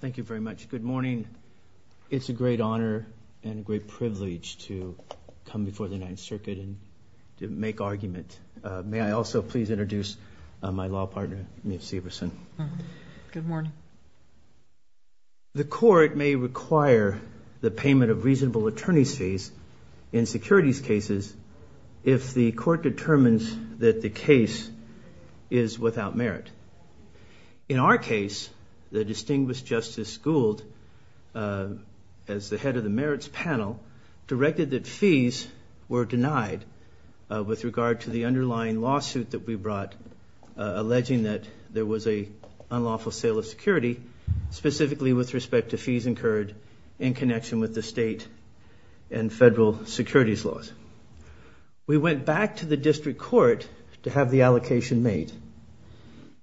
Thank you very much. Good morning. It's a great honor and a great privilege to come before the Ninth Circuit and to make argument. May I also please introduce my law partner, Meev Severson. Good morning. The court may require the payment of reasonable attorney's fees in securities cases if the court determines that the case is without merit. In our case, the distinguished Justice Gould, as the head of the merits panel, directed that fees were denied with regard to the underlying lawsuit that we brought alleging that there was a unlawful sale of security, specifically with respect to fees incurred in connection with the court to have the allocation made.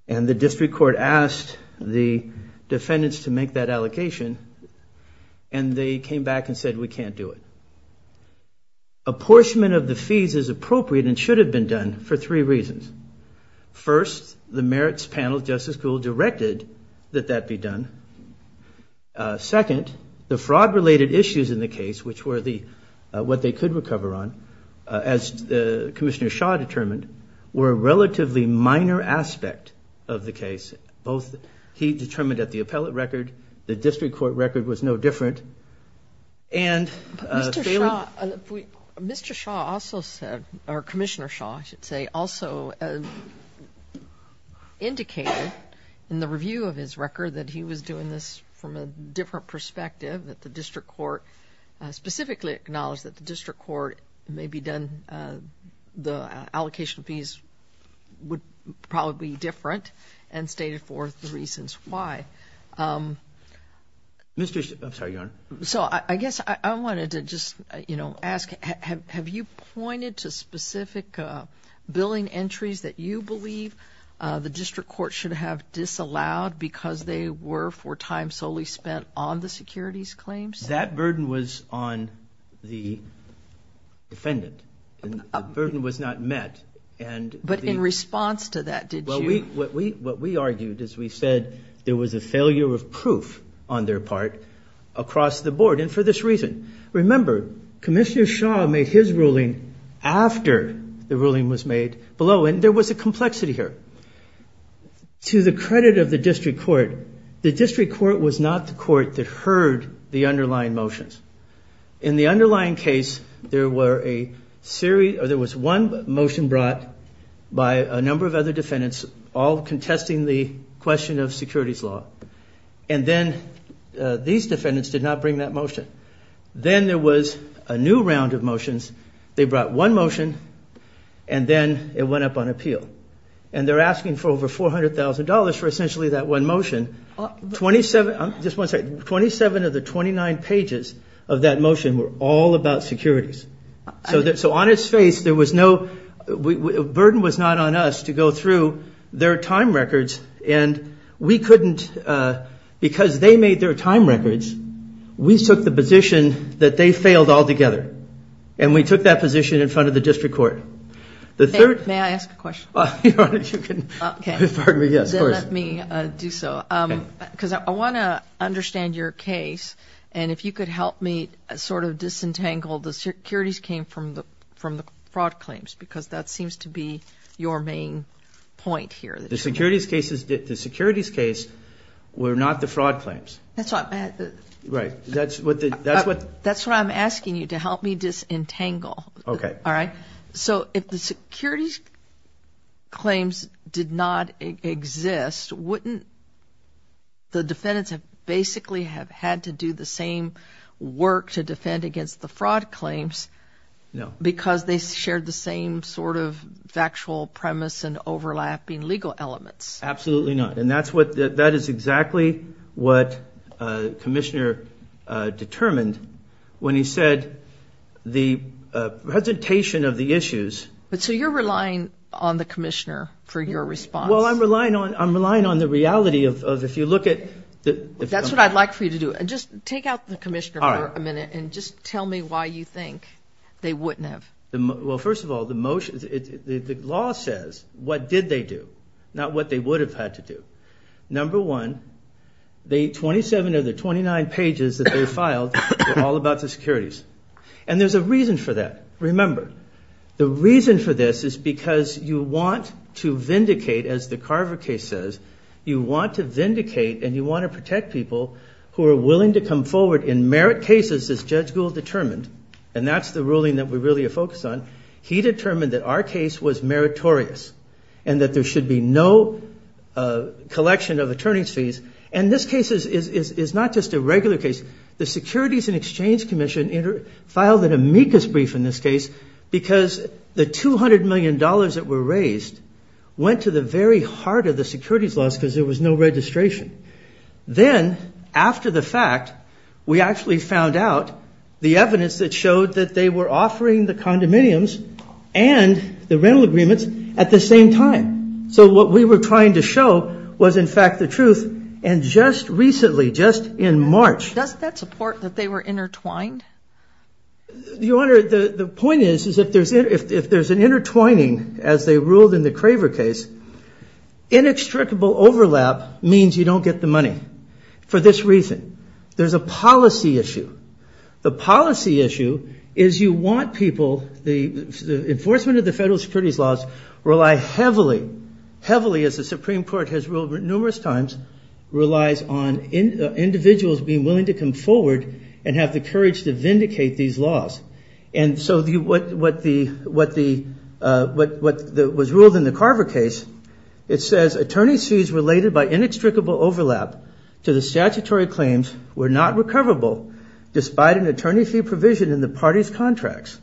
And the district court asked the defendants to make that allocation and they came back and said we can't do it. Apportionment of the fees is appropriate and should have been done for three reasons. First, the merits panel, Justice Gould, directed that that be done. Second, the fraud-related issues in the case, which were what they could recover on, as Commissioner Shaw determined, were a relatively minor aspect of the case. Both he determined at the appellate record, the district court record was no different, and Mr. Shaw also said, or Commissioner Shaw, I should say, also indicated in the review of his record that he was doing this from a different perspective, that the district court may be done, the allocation of fees would probably be different, and stated forth the reasons why. So I guess I wanted to just, you know, ask, have you pointed to specific billing entries that you believe the district court should have disallowed because they were for time solely spent on the securities claims? That burden was on the defendant. The burden was not met. But in response to that, did you? What we argued is we said there was a failure of proof on their part across the board, and for this reason. Remember, Commissioner Shaw made his ruling after the ruling was made below, and there was a complexity here. To the credit of the district court, the district court was not the court that heard the underlying motions. In the underlying case, there were a series, or there was one motion brought by a number of other defendants, all contesting the question of securities law, and then these defendants did not bring that motion. Then there was a new round of motions. They brought one motion, and then it went up on appeal, and they're asking for over $400,000 for essentially that one motion. 27 of the 29 pages of that motion were all about securities. So on its face, there was no, the burden was not on us to go through their time records, and we couldn't, because they made their time records, we took the position that they failed altogether, and we took that position in front of the Because I want to understand your case, and if you could help me sort of disentangle the securities came from the fraud claims, because that seems to be your main point here. The securities cases, the securities case were not the fraud claims. That's what I'm asking you to help me disentangle. Okay. All right, so if the securities claims did not exist, wouldn't the defendants have basically have had to do the same work to defend against the fraud claims, because they shared the same sort of factual premise and overlapping legal elements. Absolutely not, and that's what, that is exactly what Commissioner determined when he said the presentation of the issues. But so you're relying on the Commissioner for your response. Well, I'm relying on, I'm relying on the reality of, if you look at... That's what I'd like for you to do, and just take out the Commissioner for a minute, and just tell me why you think they wouldn't have. Well, first of all, the motion, the law says what did they do, not what they would have had to do. Number one, the 27 of the 29 pages that they filed were all about the securities, and there's a reason for that. Remember, the reason for this is because you want to vindicate, as the Carver case says, you want to vindicate, and you want to protect people who are willing to come forward in merit cases, as Judge Gould determined, and that's the ruling that we really focus on. He determined that our case was meritorious, and that there should be no collection of attorney's fees, and this case is not just a regular case. The Securities and Exchange Commission filed an amicus brief in this case, because the 200 million dollars that were raised went to the very heart of the securities laws, because there was no registration. Then, after the fact, we actually found out the evidence that showed that they were offering the condominiums and the rental agreements at the same time. So what we were trying to show was, in fact, the truth, and just recently, just in March... The point is, if there's an intertwining, as they ruled in the Craver case, inextricable overlap means you don't get the money, for this reason. There's a policy issue. The policy issue is you want people...the enforcement of the federal securities laws rely heavily, heavily, as the Supreme Court has ruled numerous times, relies on individuals being willing to come forward and have the courage to vindicate these laws. And so what was ruled in the Carver case, it says attorney's fees related by inextricable overlap to the statutory claims were not recoverable, despite an attorney fee provision in the party's contracts,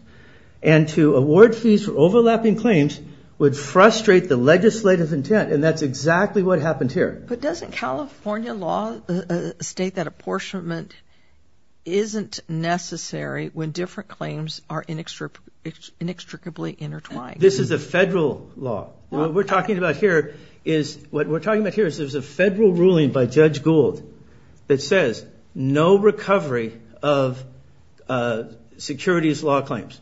and to award fees for overlapping claims would frustrate the legislative intent, and that's exactly what happened here. But doesn't California law state that apportionment isn't necessary when different claims are inextricably intertwined? This is a federal law. What we're talking about here is...what we're talking about here is there's a federal ruling by Judge Gould that says no recovery of securities law claims.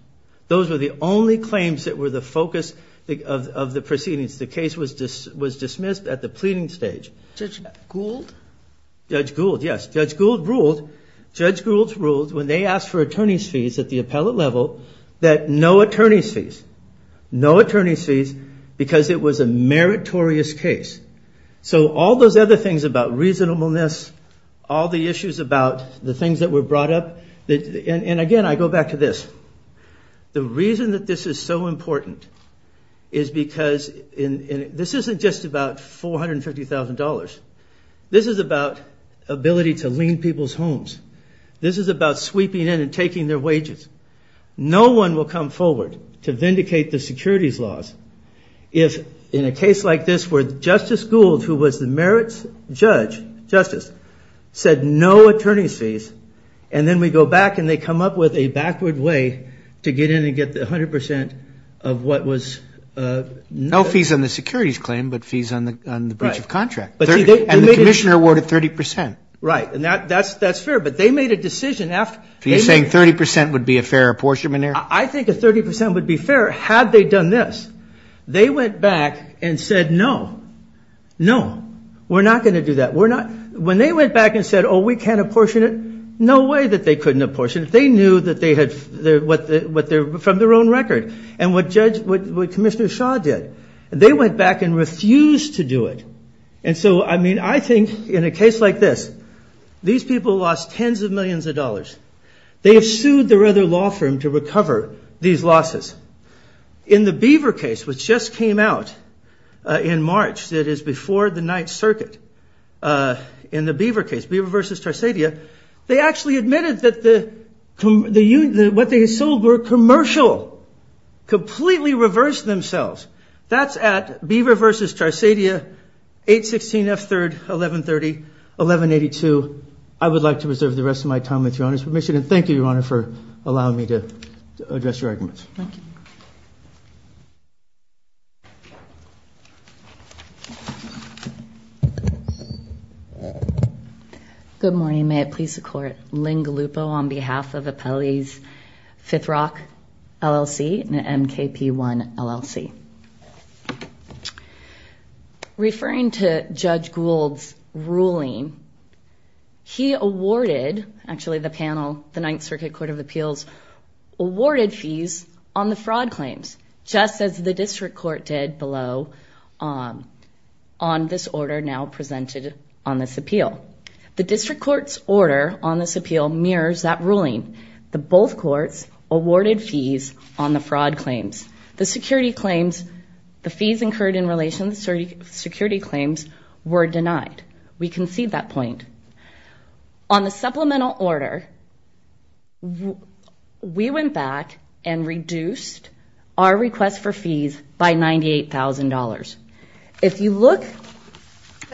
Those were the only claims that were the focus of the proceedings. The case was dismissed at the pleading stage. Judge Gould? Judge Gould, yes. Judge Gould ruled, Judge Gould's ruled when they asked for attorney's fees at the appellate level that no attorney's fees. No attorney's fees because it was a meritorious case. So all those other things about reasonableness, all the issues about the things that were brought up, and again I go back to this. The reason that this is so important is because...this isn't just about $450,000. This is about ability to lean people's homes. This is about sweeping in and taking their wages. No one will come forward to vindicate the securities laws if in a case like this where Justice Gould, who was the merits judge, justice, said no attorney's fees, and then we go back and they come up with a backward way to get in and get the 100% of what was... No fees on the securities claim, but fees on the breach of contract. And the commissioner awarded 30%. Right, and that's fair, but they made a decision after... You're saying 30% would be a fair apportionment error? I think a 30% would be fair had they done this. They went back and said no, no, we're not going to do that. We're not... When they went back and said, oh we can't apportion it, no way that they from their own record. And what Judge...what Commissioner Shaw did, they went back and refused to do it. And so, I mean, I think in a case like this, these people lost tens of millions of dollars. They have sued their other law firm to recover these losses. In the Beaver case, which just came out in March, that is before the Ninth Circuit, in the Beaver case, Beaver versus Tarsadia, they actually admitted that what they sold were commercial. Completely reversed themselves. That's at Beaver versus Tarsadia, 816 F 3rd, 1130, 1182. I would like to reserve the rest of my time with Your Honor's permission, and thank you, Your Honor, for allowing me to address your arguments. Thank you. Good morning. May it please the Court. Lynn Gallupo on behalf of Appellees Fifth Rock LLC and MKP1 LLC. Referring to Judge Gould's ruling, he awarded, actually the panel, the Ninth Circuit Court of Appeals, awarded fees on the fraud claims, just as the District Court did below on this order now presented on this appeal. The District Court's order on this appeal mirrors that ruling. Both courts awarded fees on the fraud claims. The security claims, the fees incurred in relation to security claims, were denied. We concede that our request for fees by $98,000. If you look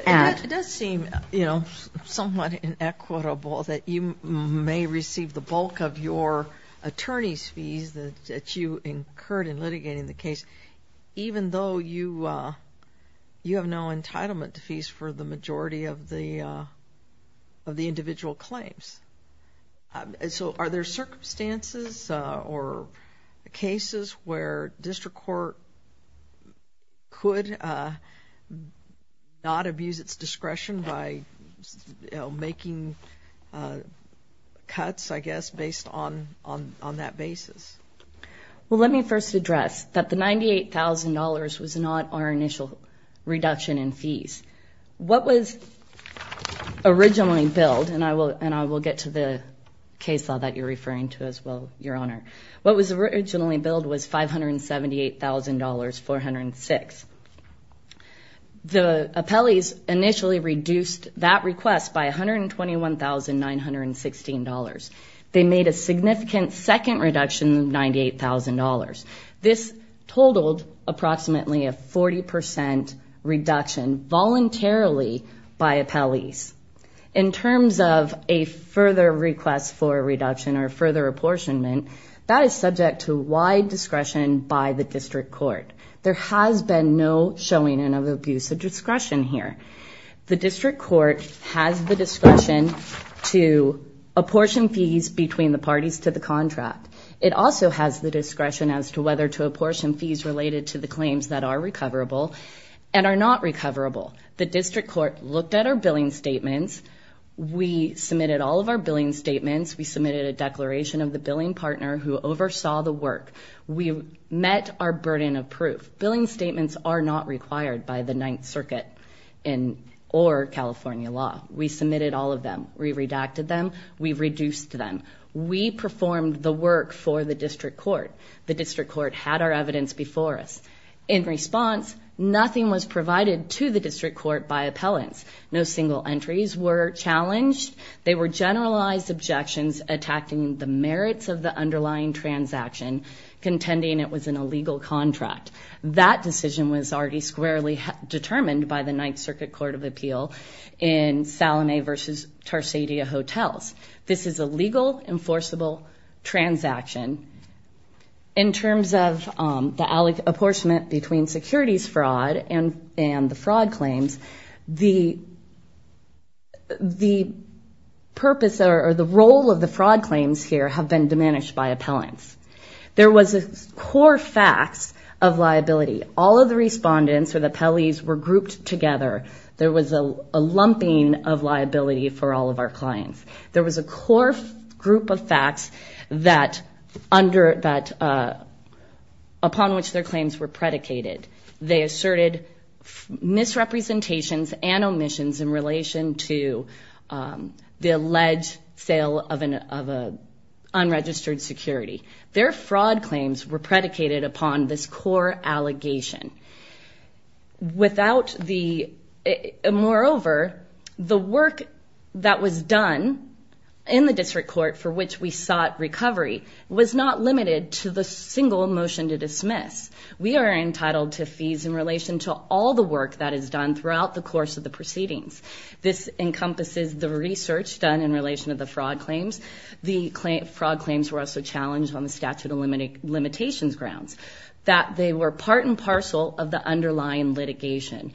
at... It does seem, you know, somewhat inequitable that you may receive the bulk of your attorney's fees that you incurred in litigating the case, even though you have no entitlement to fees for the majority of the individual claims. So are there circumstances or cases where District Court could not abuse its discretion by making cuts, I guess, based on that basis? Well, let me first address that the $98,000 was not our initial reduction in fees. What was originally billed, and I will get to the case law that you're referring to as well, Your Honor. What was originally billed was $578,406. The appellees initially reduced that request by $121,916. They made a significant second reduction of $98,000. This totaled approximately a 40% reduction voluntarily by appellees. In terms of a further request for reduction or further apportionment, that is subject to wide discretion by the District Court. There has been no showing of abuse of discretion here. The District Court has the discretion to apportion fees between the parties to the contract. It also has the discretion as to whether to apportion fees related to the claims that are recoverable and are not recoverable. The District Court looked at our billing statements. We submitted all of our billing statements. We submitted a declaration of the billing partner who oversaw the work. We met our burden of proof. Billing statements are not required by the Ninth Circuit or California law. We submitted all of them. We redacted them. We reduced them. We performed the work for the District Court. The District Court had our evidence before us. In response, nothing was provided to the District Court by appellants. No single entries were challenged. They were generalized objections attacking the merits of the underlying transaction contending it was an illegal contract. That decision was already squarely determined by the Ninth Circuit Court of Appeal in Salome versus Tarsadia Hotels. This is a legal enforceable transaction. In terms of the purpose or the role of the fraud claims here have been diminished by appellants. There was a core facts of liability. All of the respondents or the appellees were grouped together. There was a lumping of liability for all of our clients. There was a core group of facts that under that upon which their claims were predicated. They asserted misrepresentations and omissions in relation to the alleged sale of an unregistered security. Their fraud claims were predicated upon this core allegation. Moreover, the work that was done in the District Court for which we sought recovery was not limited to the single motion to dismiss. We are entitled to fees in relation to all the work that is done throughout the course of the proceedings. This encompasses the research done in relation to the fraud claims. The fraud claims were also challenged on the statute of limitations grounds. They were part and parcel of the underlying litigation.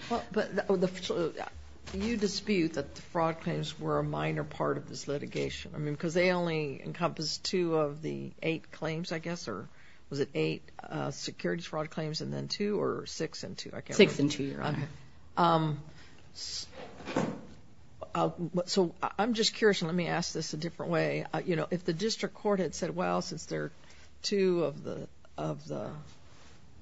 You dispute that the fraud claims were a minor part of this litigation. I mean because they only encompass two of the eight claims I guess or was it eight securities fraud claims and then two or six and two. Six and two, Your Honor. So I'm just curious let me ask this a different way. You know if the District Court had said well since there are two of the of the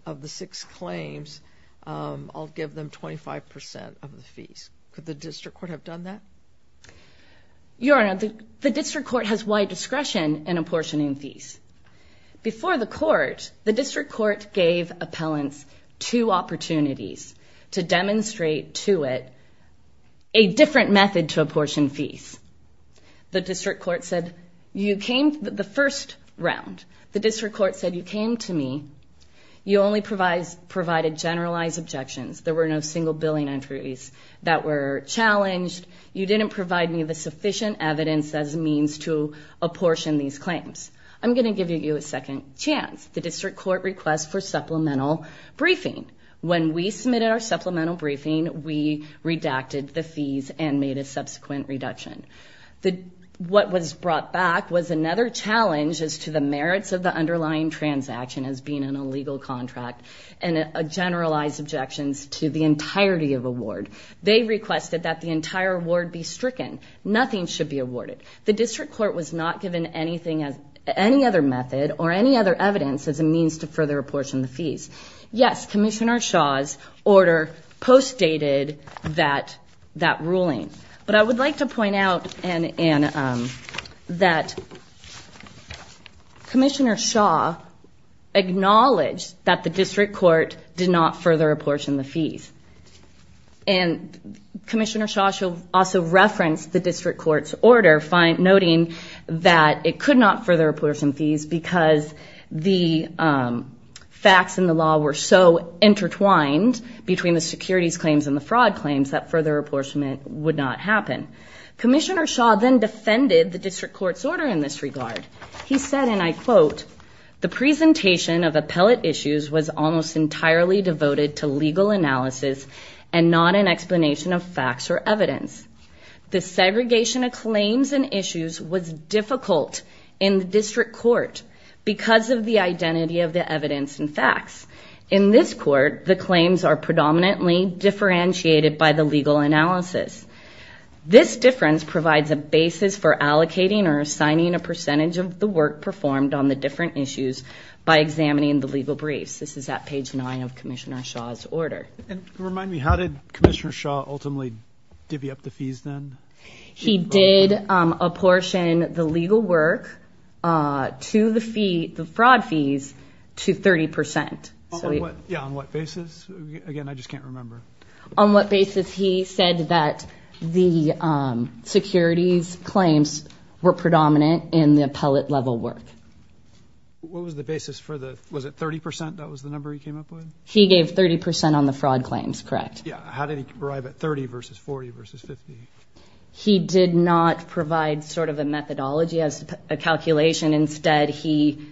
of the six claims I'll give them 25% of the fees. Could the District Court have done that? Your Honor, the District Court has wide discretion in apportioning fees. Before the court, the District Court gave appellants two opportunities to demonstrate to it a different method to apportion fees. The District Court said you came the first round. The District Court said you came to me. You only provided generalized objections. There were no single billing entries that were challenged. You didn't provide me the sufficient evidence as means to apportion these claims. I'm going to give you a second chance. The District Court requests for supplemental briefing. When we submitted our supplemental briefing we redacted the fees and made a subsequent reduction. What was brought back was another challenge as to the merits of the underlying transaction as being an illegal contract and a generalized objections to the entirety of award. They requested that the entire award be stricken. Nothing should be awarded. The District Court was not given any other method or any other evidence as a means to further apportion the fees. Yes, Commissioner Shaw's order postdated that ruling. I would like to point out that Commissioner Shaw acknowledged that the District Court did not further apportion the fees. Commissioner Shaw also referenced the District Court's order noting that it could not further apportion fees because the facts in the law were so intertwined between the securities claims and the fraud claims that further apportionment would not happen. Commissioner Shaw then defended the District Court's order in this regard. He said, and I quote, the presentation of appellate issues was almost entirely devoted to legal analysis and not an explanation of facts or evidence. The segregation of claims and issues was difficult in the District Court because of the identity of the evidence and facts. In this court, the claims are predominantly differentiated by the legal analysis. This difference provides a basis for allocating or assigning a percentage of the work performed on the different issues by examining the legal briefs. This is at page 9 of Commissioner Shaw's order. Remind me, how did Commissioner Shaw ultimately divvy up the fees? He did apportion the legal work to the fraud fees to 30%. Yeah, on what basis? Again, I just can't remember. On what basis he said that the securities claims were predominant in the appellate level work. What was the basis for the, was it 30% that was the number he came up with? He gave 30% on the fraud claims, correct. Yeah, how did he arrive at 30 versus 40 versus 50? He did not provide sort of a methodology as a calculation. Instead, he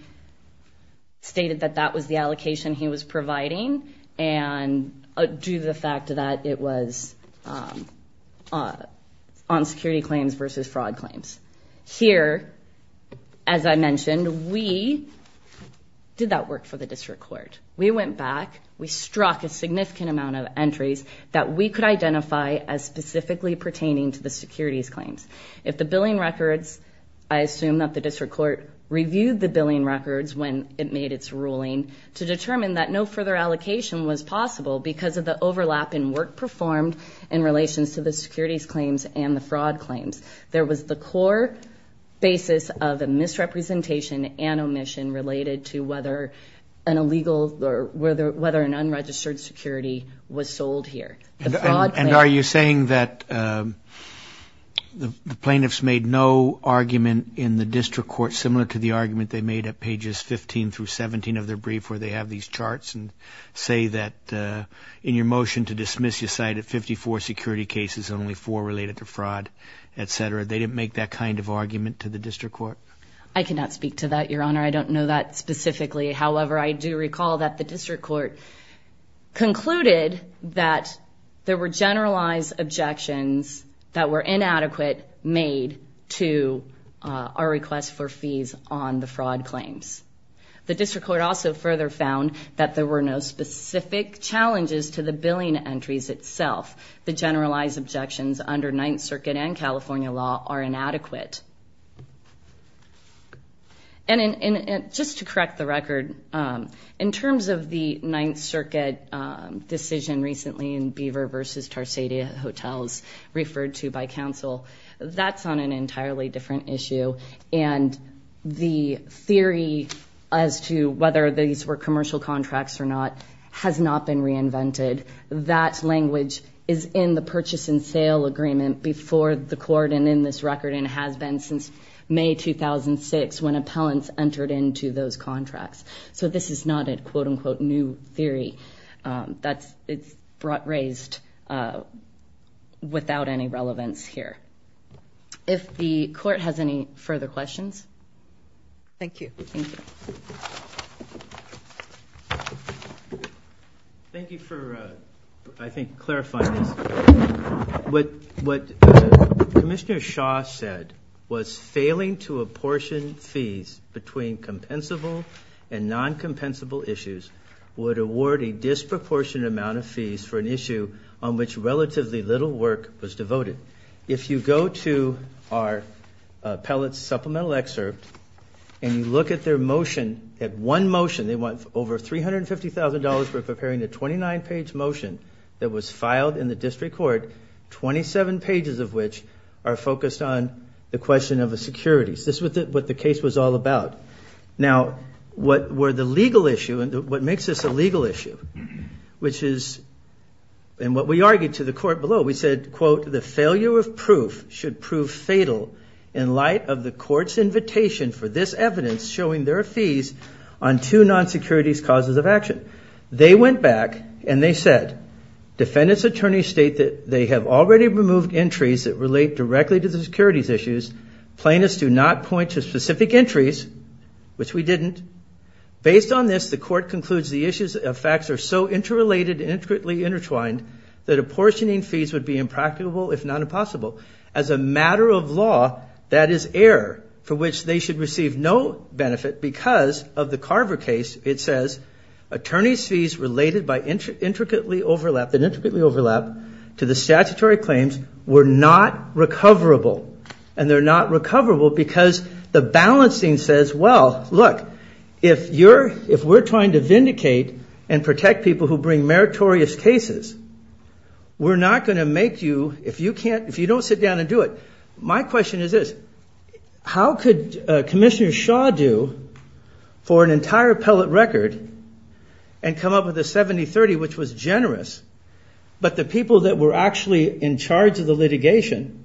stated that that was the allocation he was providing and due to the fact that it was on security claims versus fraud claims. Here, as I mentioned, we did that work for the District Court. We went back, we struck a significant amount of entries that we could identify as specifically pertaining to the securities claims. If the billing records, I assume that the District Court reviewed the billing records when it made its ruling to determine that no further allocation was possible because of the overlap in work performed in relations to the securities claims and the fraud claims. There was the core basis of a misrepresentation and omission related to whether an unregistered security was sold here. And are you saying that the plaintiffs made no argument in the District Court similar to the argument they made at pages 15 through 17 of their brief where they have these charts and say that in your motion to dismiss you cited 54 security cases, only four related to fraud, etc. They didn't make that kind of argument to the District Court? I cannot speak to that, Your Honor. I don't know that specifically. However, I do recall that the District Court concluded that there were generalized objections that were inadequate made to our request for fees on the fraud claims. The District Court also further found that there were no specific challenges to the billing entries itself. The generalized objections under Ninth Circuit and of the Ninth Circuit decision recently in Beaver v. Tarsadia Hotels referred to by counsel, that's on an entirely different issue. And the theory as to whether these were commercial contracts or not has not been reinvented. That language is in the purchase and sale agreement before the court and in this record and has been since May 2006 when appellants entered into those contracts. So this is not a quote-unquote new theory. It's raised without any relevance here. If the court has any further questions? Thank you. Thank you. Thank you for, I think, clarifying this. What Commissioner Shaw said was failing to identify and non-compensable issues would award a disproportionate amount of fees for an issue on which relatively little work was devoted. If you go to our appellate's supplemental excerpt and you look at their motion, at one motion, they want over $350,000 for preparing a 29-page motion that was filed in the District Court, 27 pages of which are focused on the question of the securities. This is what the case was all about. Now, what were the legal issue and what makes this a legal issue, which is, and what we argued to the court below, we said, quote, the failure of proof should prove fatal in light of the court's invitation for this evidence showing their fees on two non-securities causes of action. They went back and they said, defendants' attorneys state that they have already removed entries that relate directly to the securities issues. Plaintiffs do not point to specific entries, which we didn't. Based on this, the court concludes the issues of facts are so interrelated and intricately intertwined that apportioning fees would be impracticable, if not impossible. As a matter of law, that is error for which they should receive no benefit because of the Carver case. It says, attorneys' fees related by intricately overlap, that intricately overlap, to the statutory claims were not recoverable and they're not recoverable because the balancing says, well, look, if you're, if we're trying to vindicate and protect people who bring meritorious cases, we're not going to make you, if you can't, if you don't sit down and do it, my question is this, how could Commissioner Shaw do for an entire pellet record and come up with a 70-30, which was generous, but the people that were actually in charge of the litigation,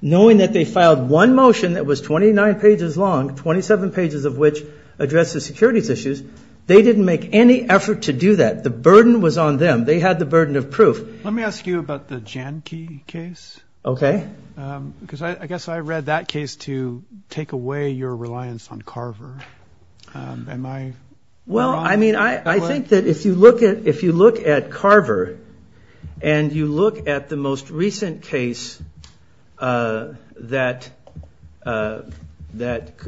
knowing that they filed one motion that was 29 pages long, 27 pages of which addressed the securities issues, they didn't make any effort to do that. The burden was on them. They had the burden of proof. Let me ask you about the Jahnke case. Okay. Because I guess I read that case to take away your reliance on Carver. Am I wrong? Well, I mean, I think that if you look at, if you look at Carver and you look at the most recent case that, that,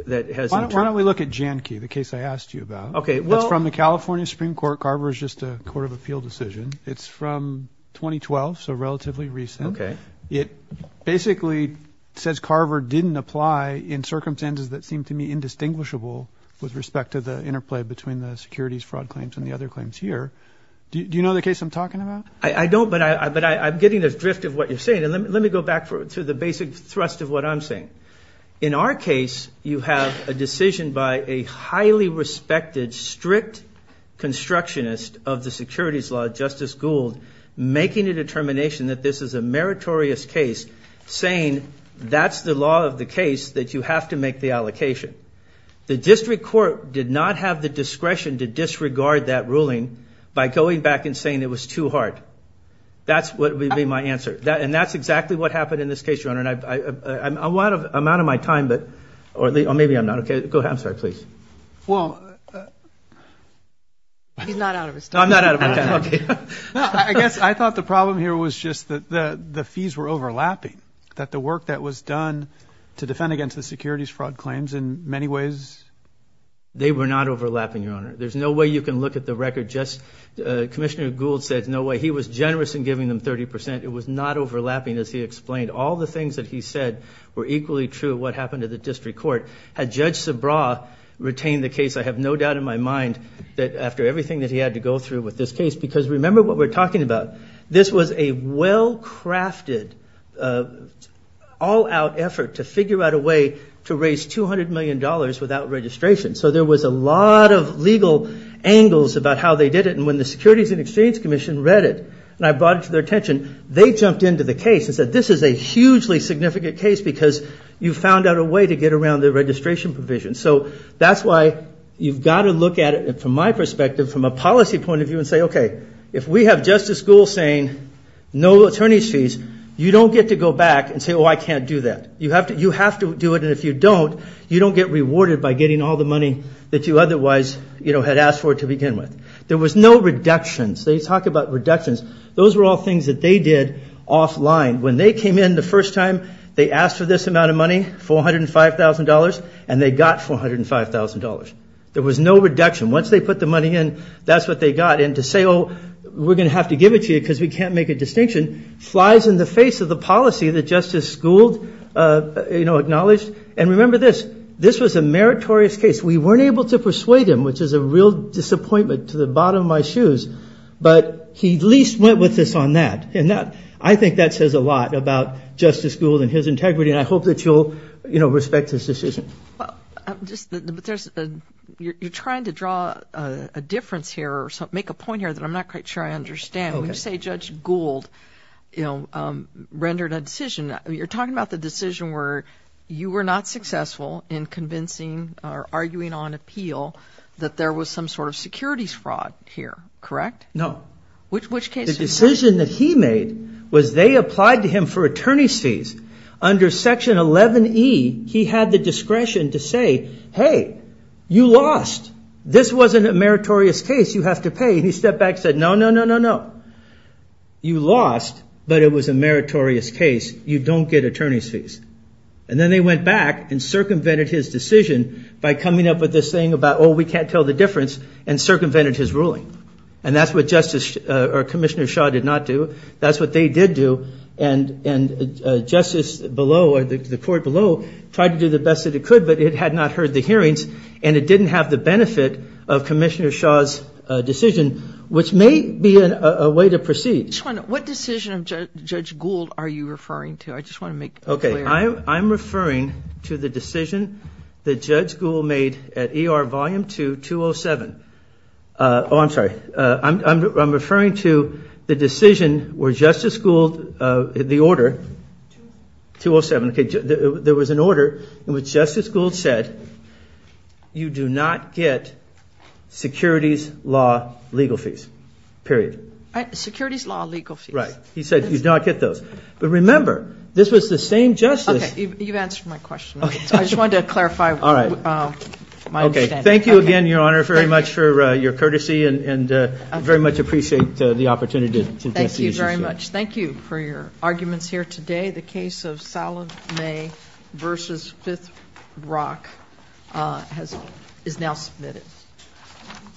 that has... Why don't we look at Jahnke, the case I asked you about. Okay. Well, it's from the California Supreme Court. Carver is just a court of appeal decision. It's from 2012, so relatively recent. Okay. It basically says Carver didn't apply in circumstances that seem to me indistinguishable with respect to the interplay between the securities fraud claims and the other claims here. Do you know the case I'm talking about? I don't, but I, but I'm getting the drift of what you're saying. And let me, let me go back for, to the basic thrust of what I'm saying. In our case, you have a decision by a highly respected, strict constructionist of the securities law, Justice Gould, making a determination that this is a meritorious case, saying that's the law of the case, that you have to make the allocation. The district court did not have the discretion to disregard that ruling by going back and saying it was too hard. That's what would be my answer. That, and that's exactly what happened in this case, Your Honor. And I, I, I'm out of, I'm out of my time, but, or maybe I'm not. Okay. Go ahead. I'm sorry. Please. Well... He's not out of his time. I'm not out of my time. Okay. I guess, I thought the problem here was just that the, the fees were overlapping. That the work that was done to defend against the securities fraud claims, in many ways... They were not overlapping, Your Honor. There's no way you can look at the record, just, Commissioner Gould said, no way. He was generous in giving them 30%. It was not overlapping, as he explained. All the things that he said were equally true of what happened to the district court. Had Judge Sabra retained the case, I have no doubt in my mind that after everything that he had to go through with this case, because remember what we're talking about. This was a well-crafted, all-out effort to figure out a way to raise 200 million dollars without registration. So there was a lot of legal angles about how they did it. And when the Securities and Exchange Commission read it, and I brought it to their attention, they jumped into the case and said, this is a hugely significant case because you found out a way to get around the registration provision. So that's why you've got to look at it from my perspective, from a policy point of view, and say, okay, if we have Justice Gould saying, no attorneys fees, you don't get to go back and say, oh I can't do that. You have to do it, and if you don't, you don't get rewarded by getting all the money that you otherwise, you know, had asked for to begin with. There was no reductions. They talk about reductions. Those were all things that they did offline. When they came in the first time, they asked for this amount of money, $405,000, and they got $405,000. There was no reduction. Once they put the money in, that's what they got. And to say, oh, we're going to have to give it to you because we can't make a distinction, flies in the face of the policy that Justice Gould, you know, acknowledged. And remember this, this was a meritorious case. We weren't able to persuade him, which is a real disappointment to the bottom of my shoes, but he at least went with us on that. And that, I think that says a lot about Justice Gould and his integrity, and I hope that you'll, you know, respect this decision. You're trying to draw a difference here, or make a point here that I'm not quite sure I understand. You say Judge Gould, you know, rendered a decision. You're talking about the decision where you were not successful in convincing or arguing on appeal that there was some sort of securities fraud here, correct? No. Which case? The decision that he made was they applied to him for attorney's fees. Under Section 11e, he had the discretion to say, hey, you lost. This wasn't a meritorious case. You have to pay. And he stepped back and said, no, no, no, no, no. You lost, but it was a meritorious case. You don't get attorney's fees. And then they went back and circumvented his decision by coming up with this thing about, oh, we can't tell the difference, and circumvented his ruling. And that's what Justice, or Commissioner Shaw did not do. That's what they did do. And Justice below, or the court below, tried to do the best that it could, but it had not heard the hearings, and it didn't have the benefit of Commissioner Shaw's decision, which may be a way to proceed. What decision of Judge Gould are you referring to? I just want to make clear. Okay, I'm referring to the decision that Judge Gould made at ER volume 2, 207. Oh, I'm sorry. I'm referring to the decision where Justice Gould, the order, 207. Okay, there was an order where Justice Gould said, you do not get securities law legal fees, period. Securities law legal fees. Right. He said, you do not get those. But remember, this was the same justice. Okay, you've answered my question. I just wanted to clarify. All right. Okay, thank you again, Your Honor, very much for your courtesy, and very much appreciate the opportunity. Thank you very much. Thank you for your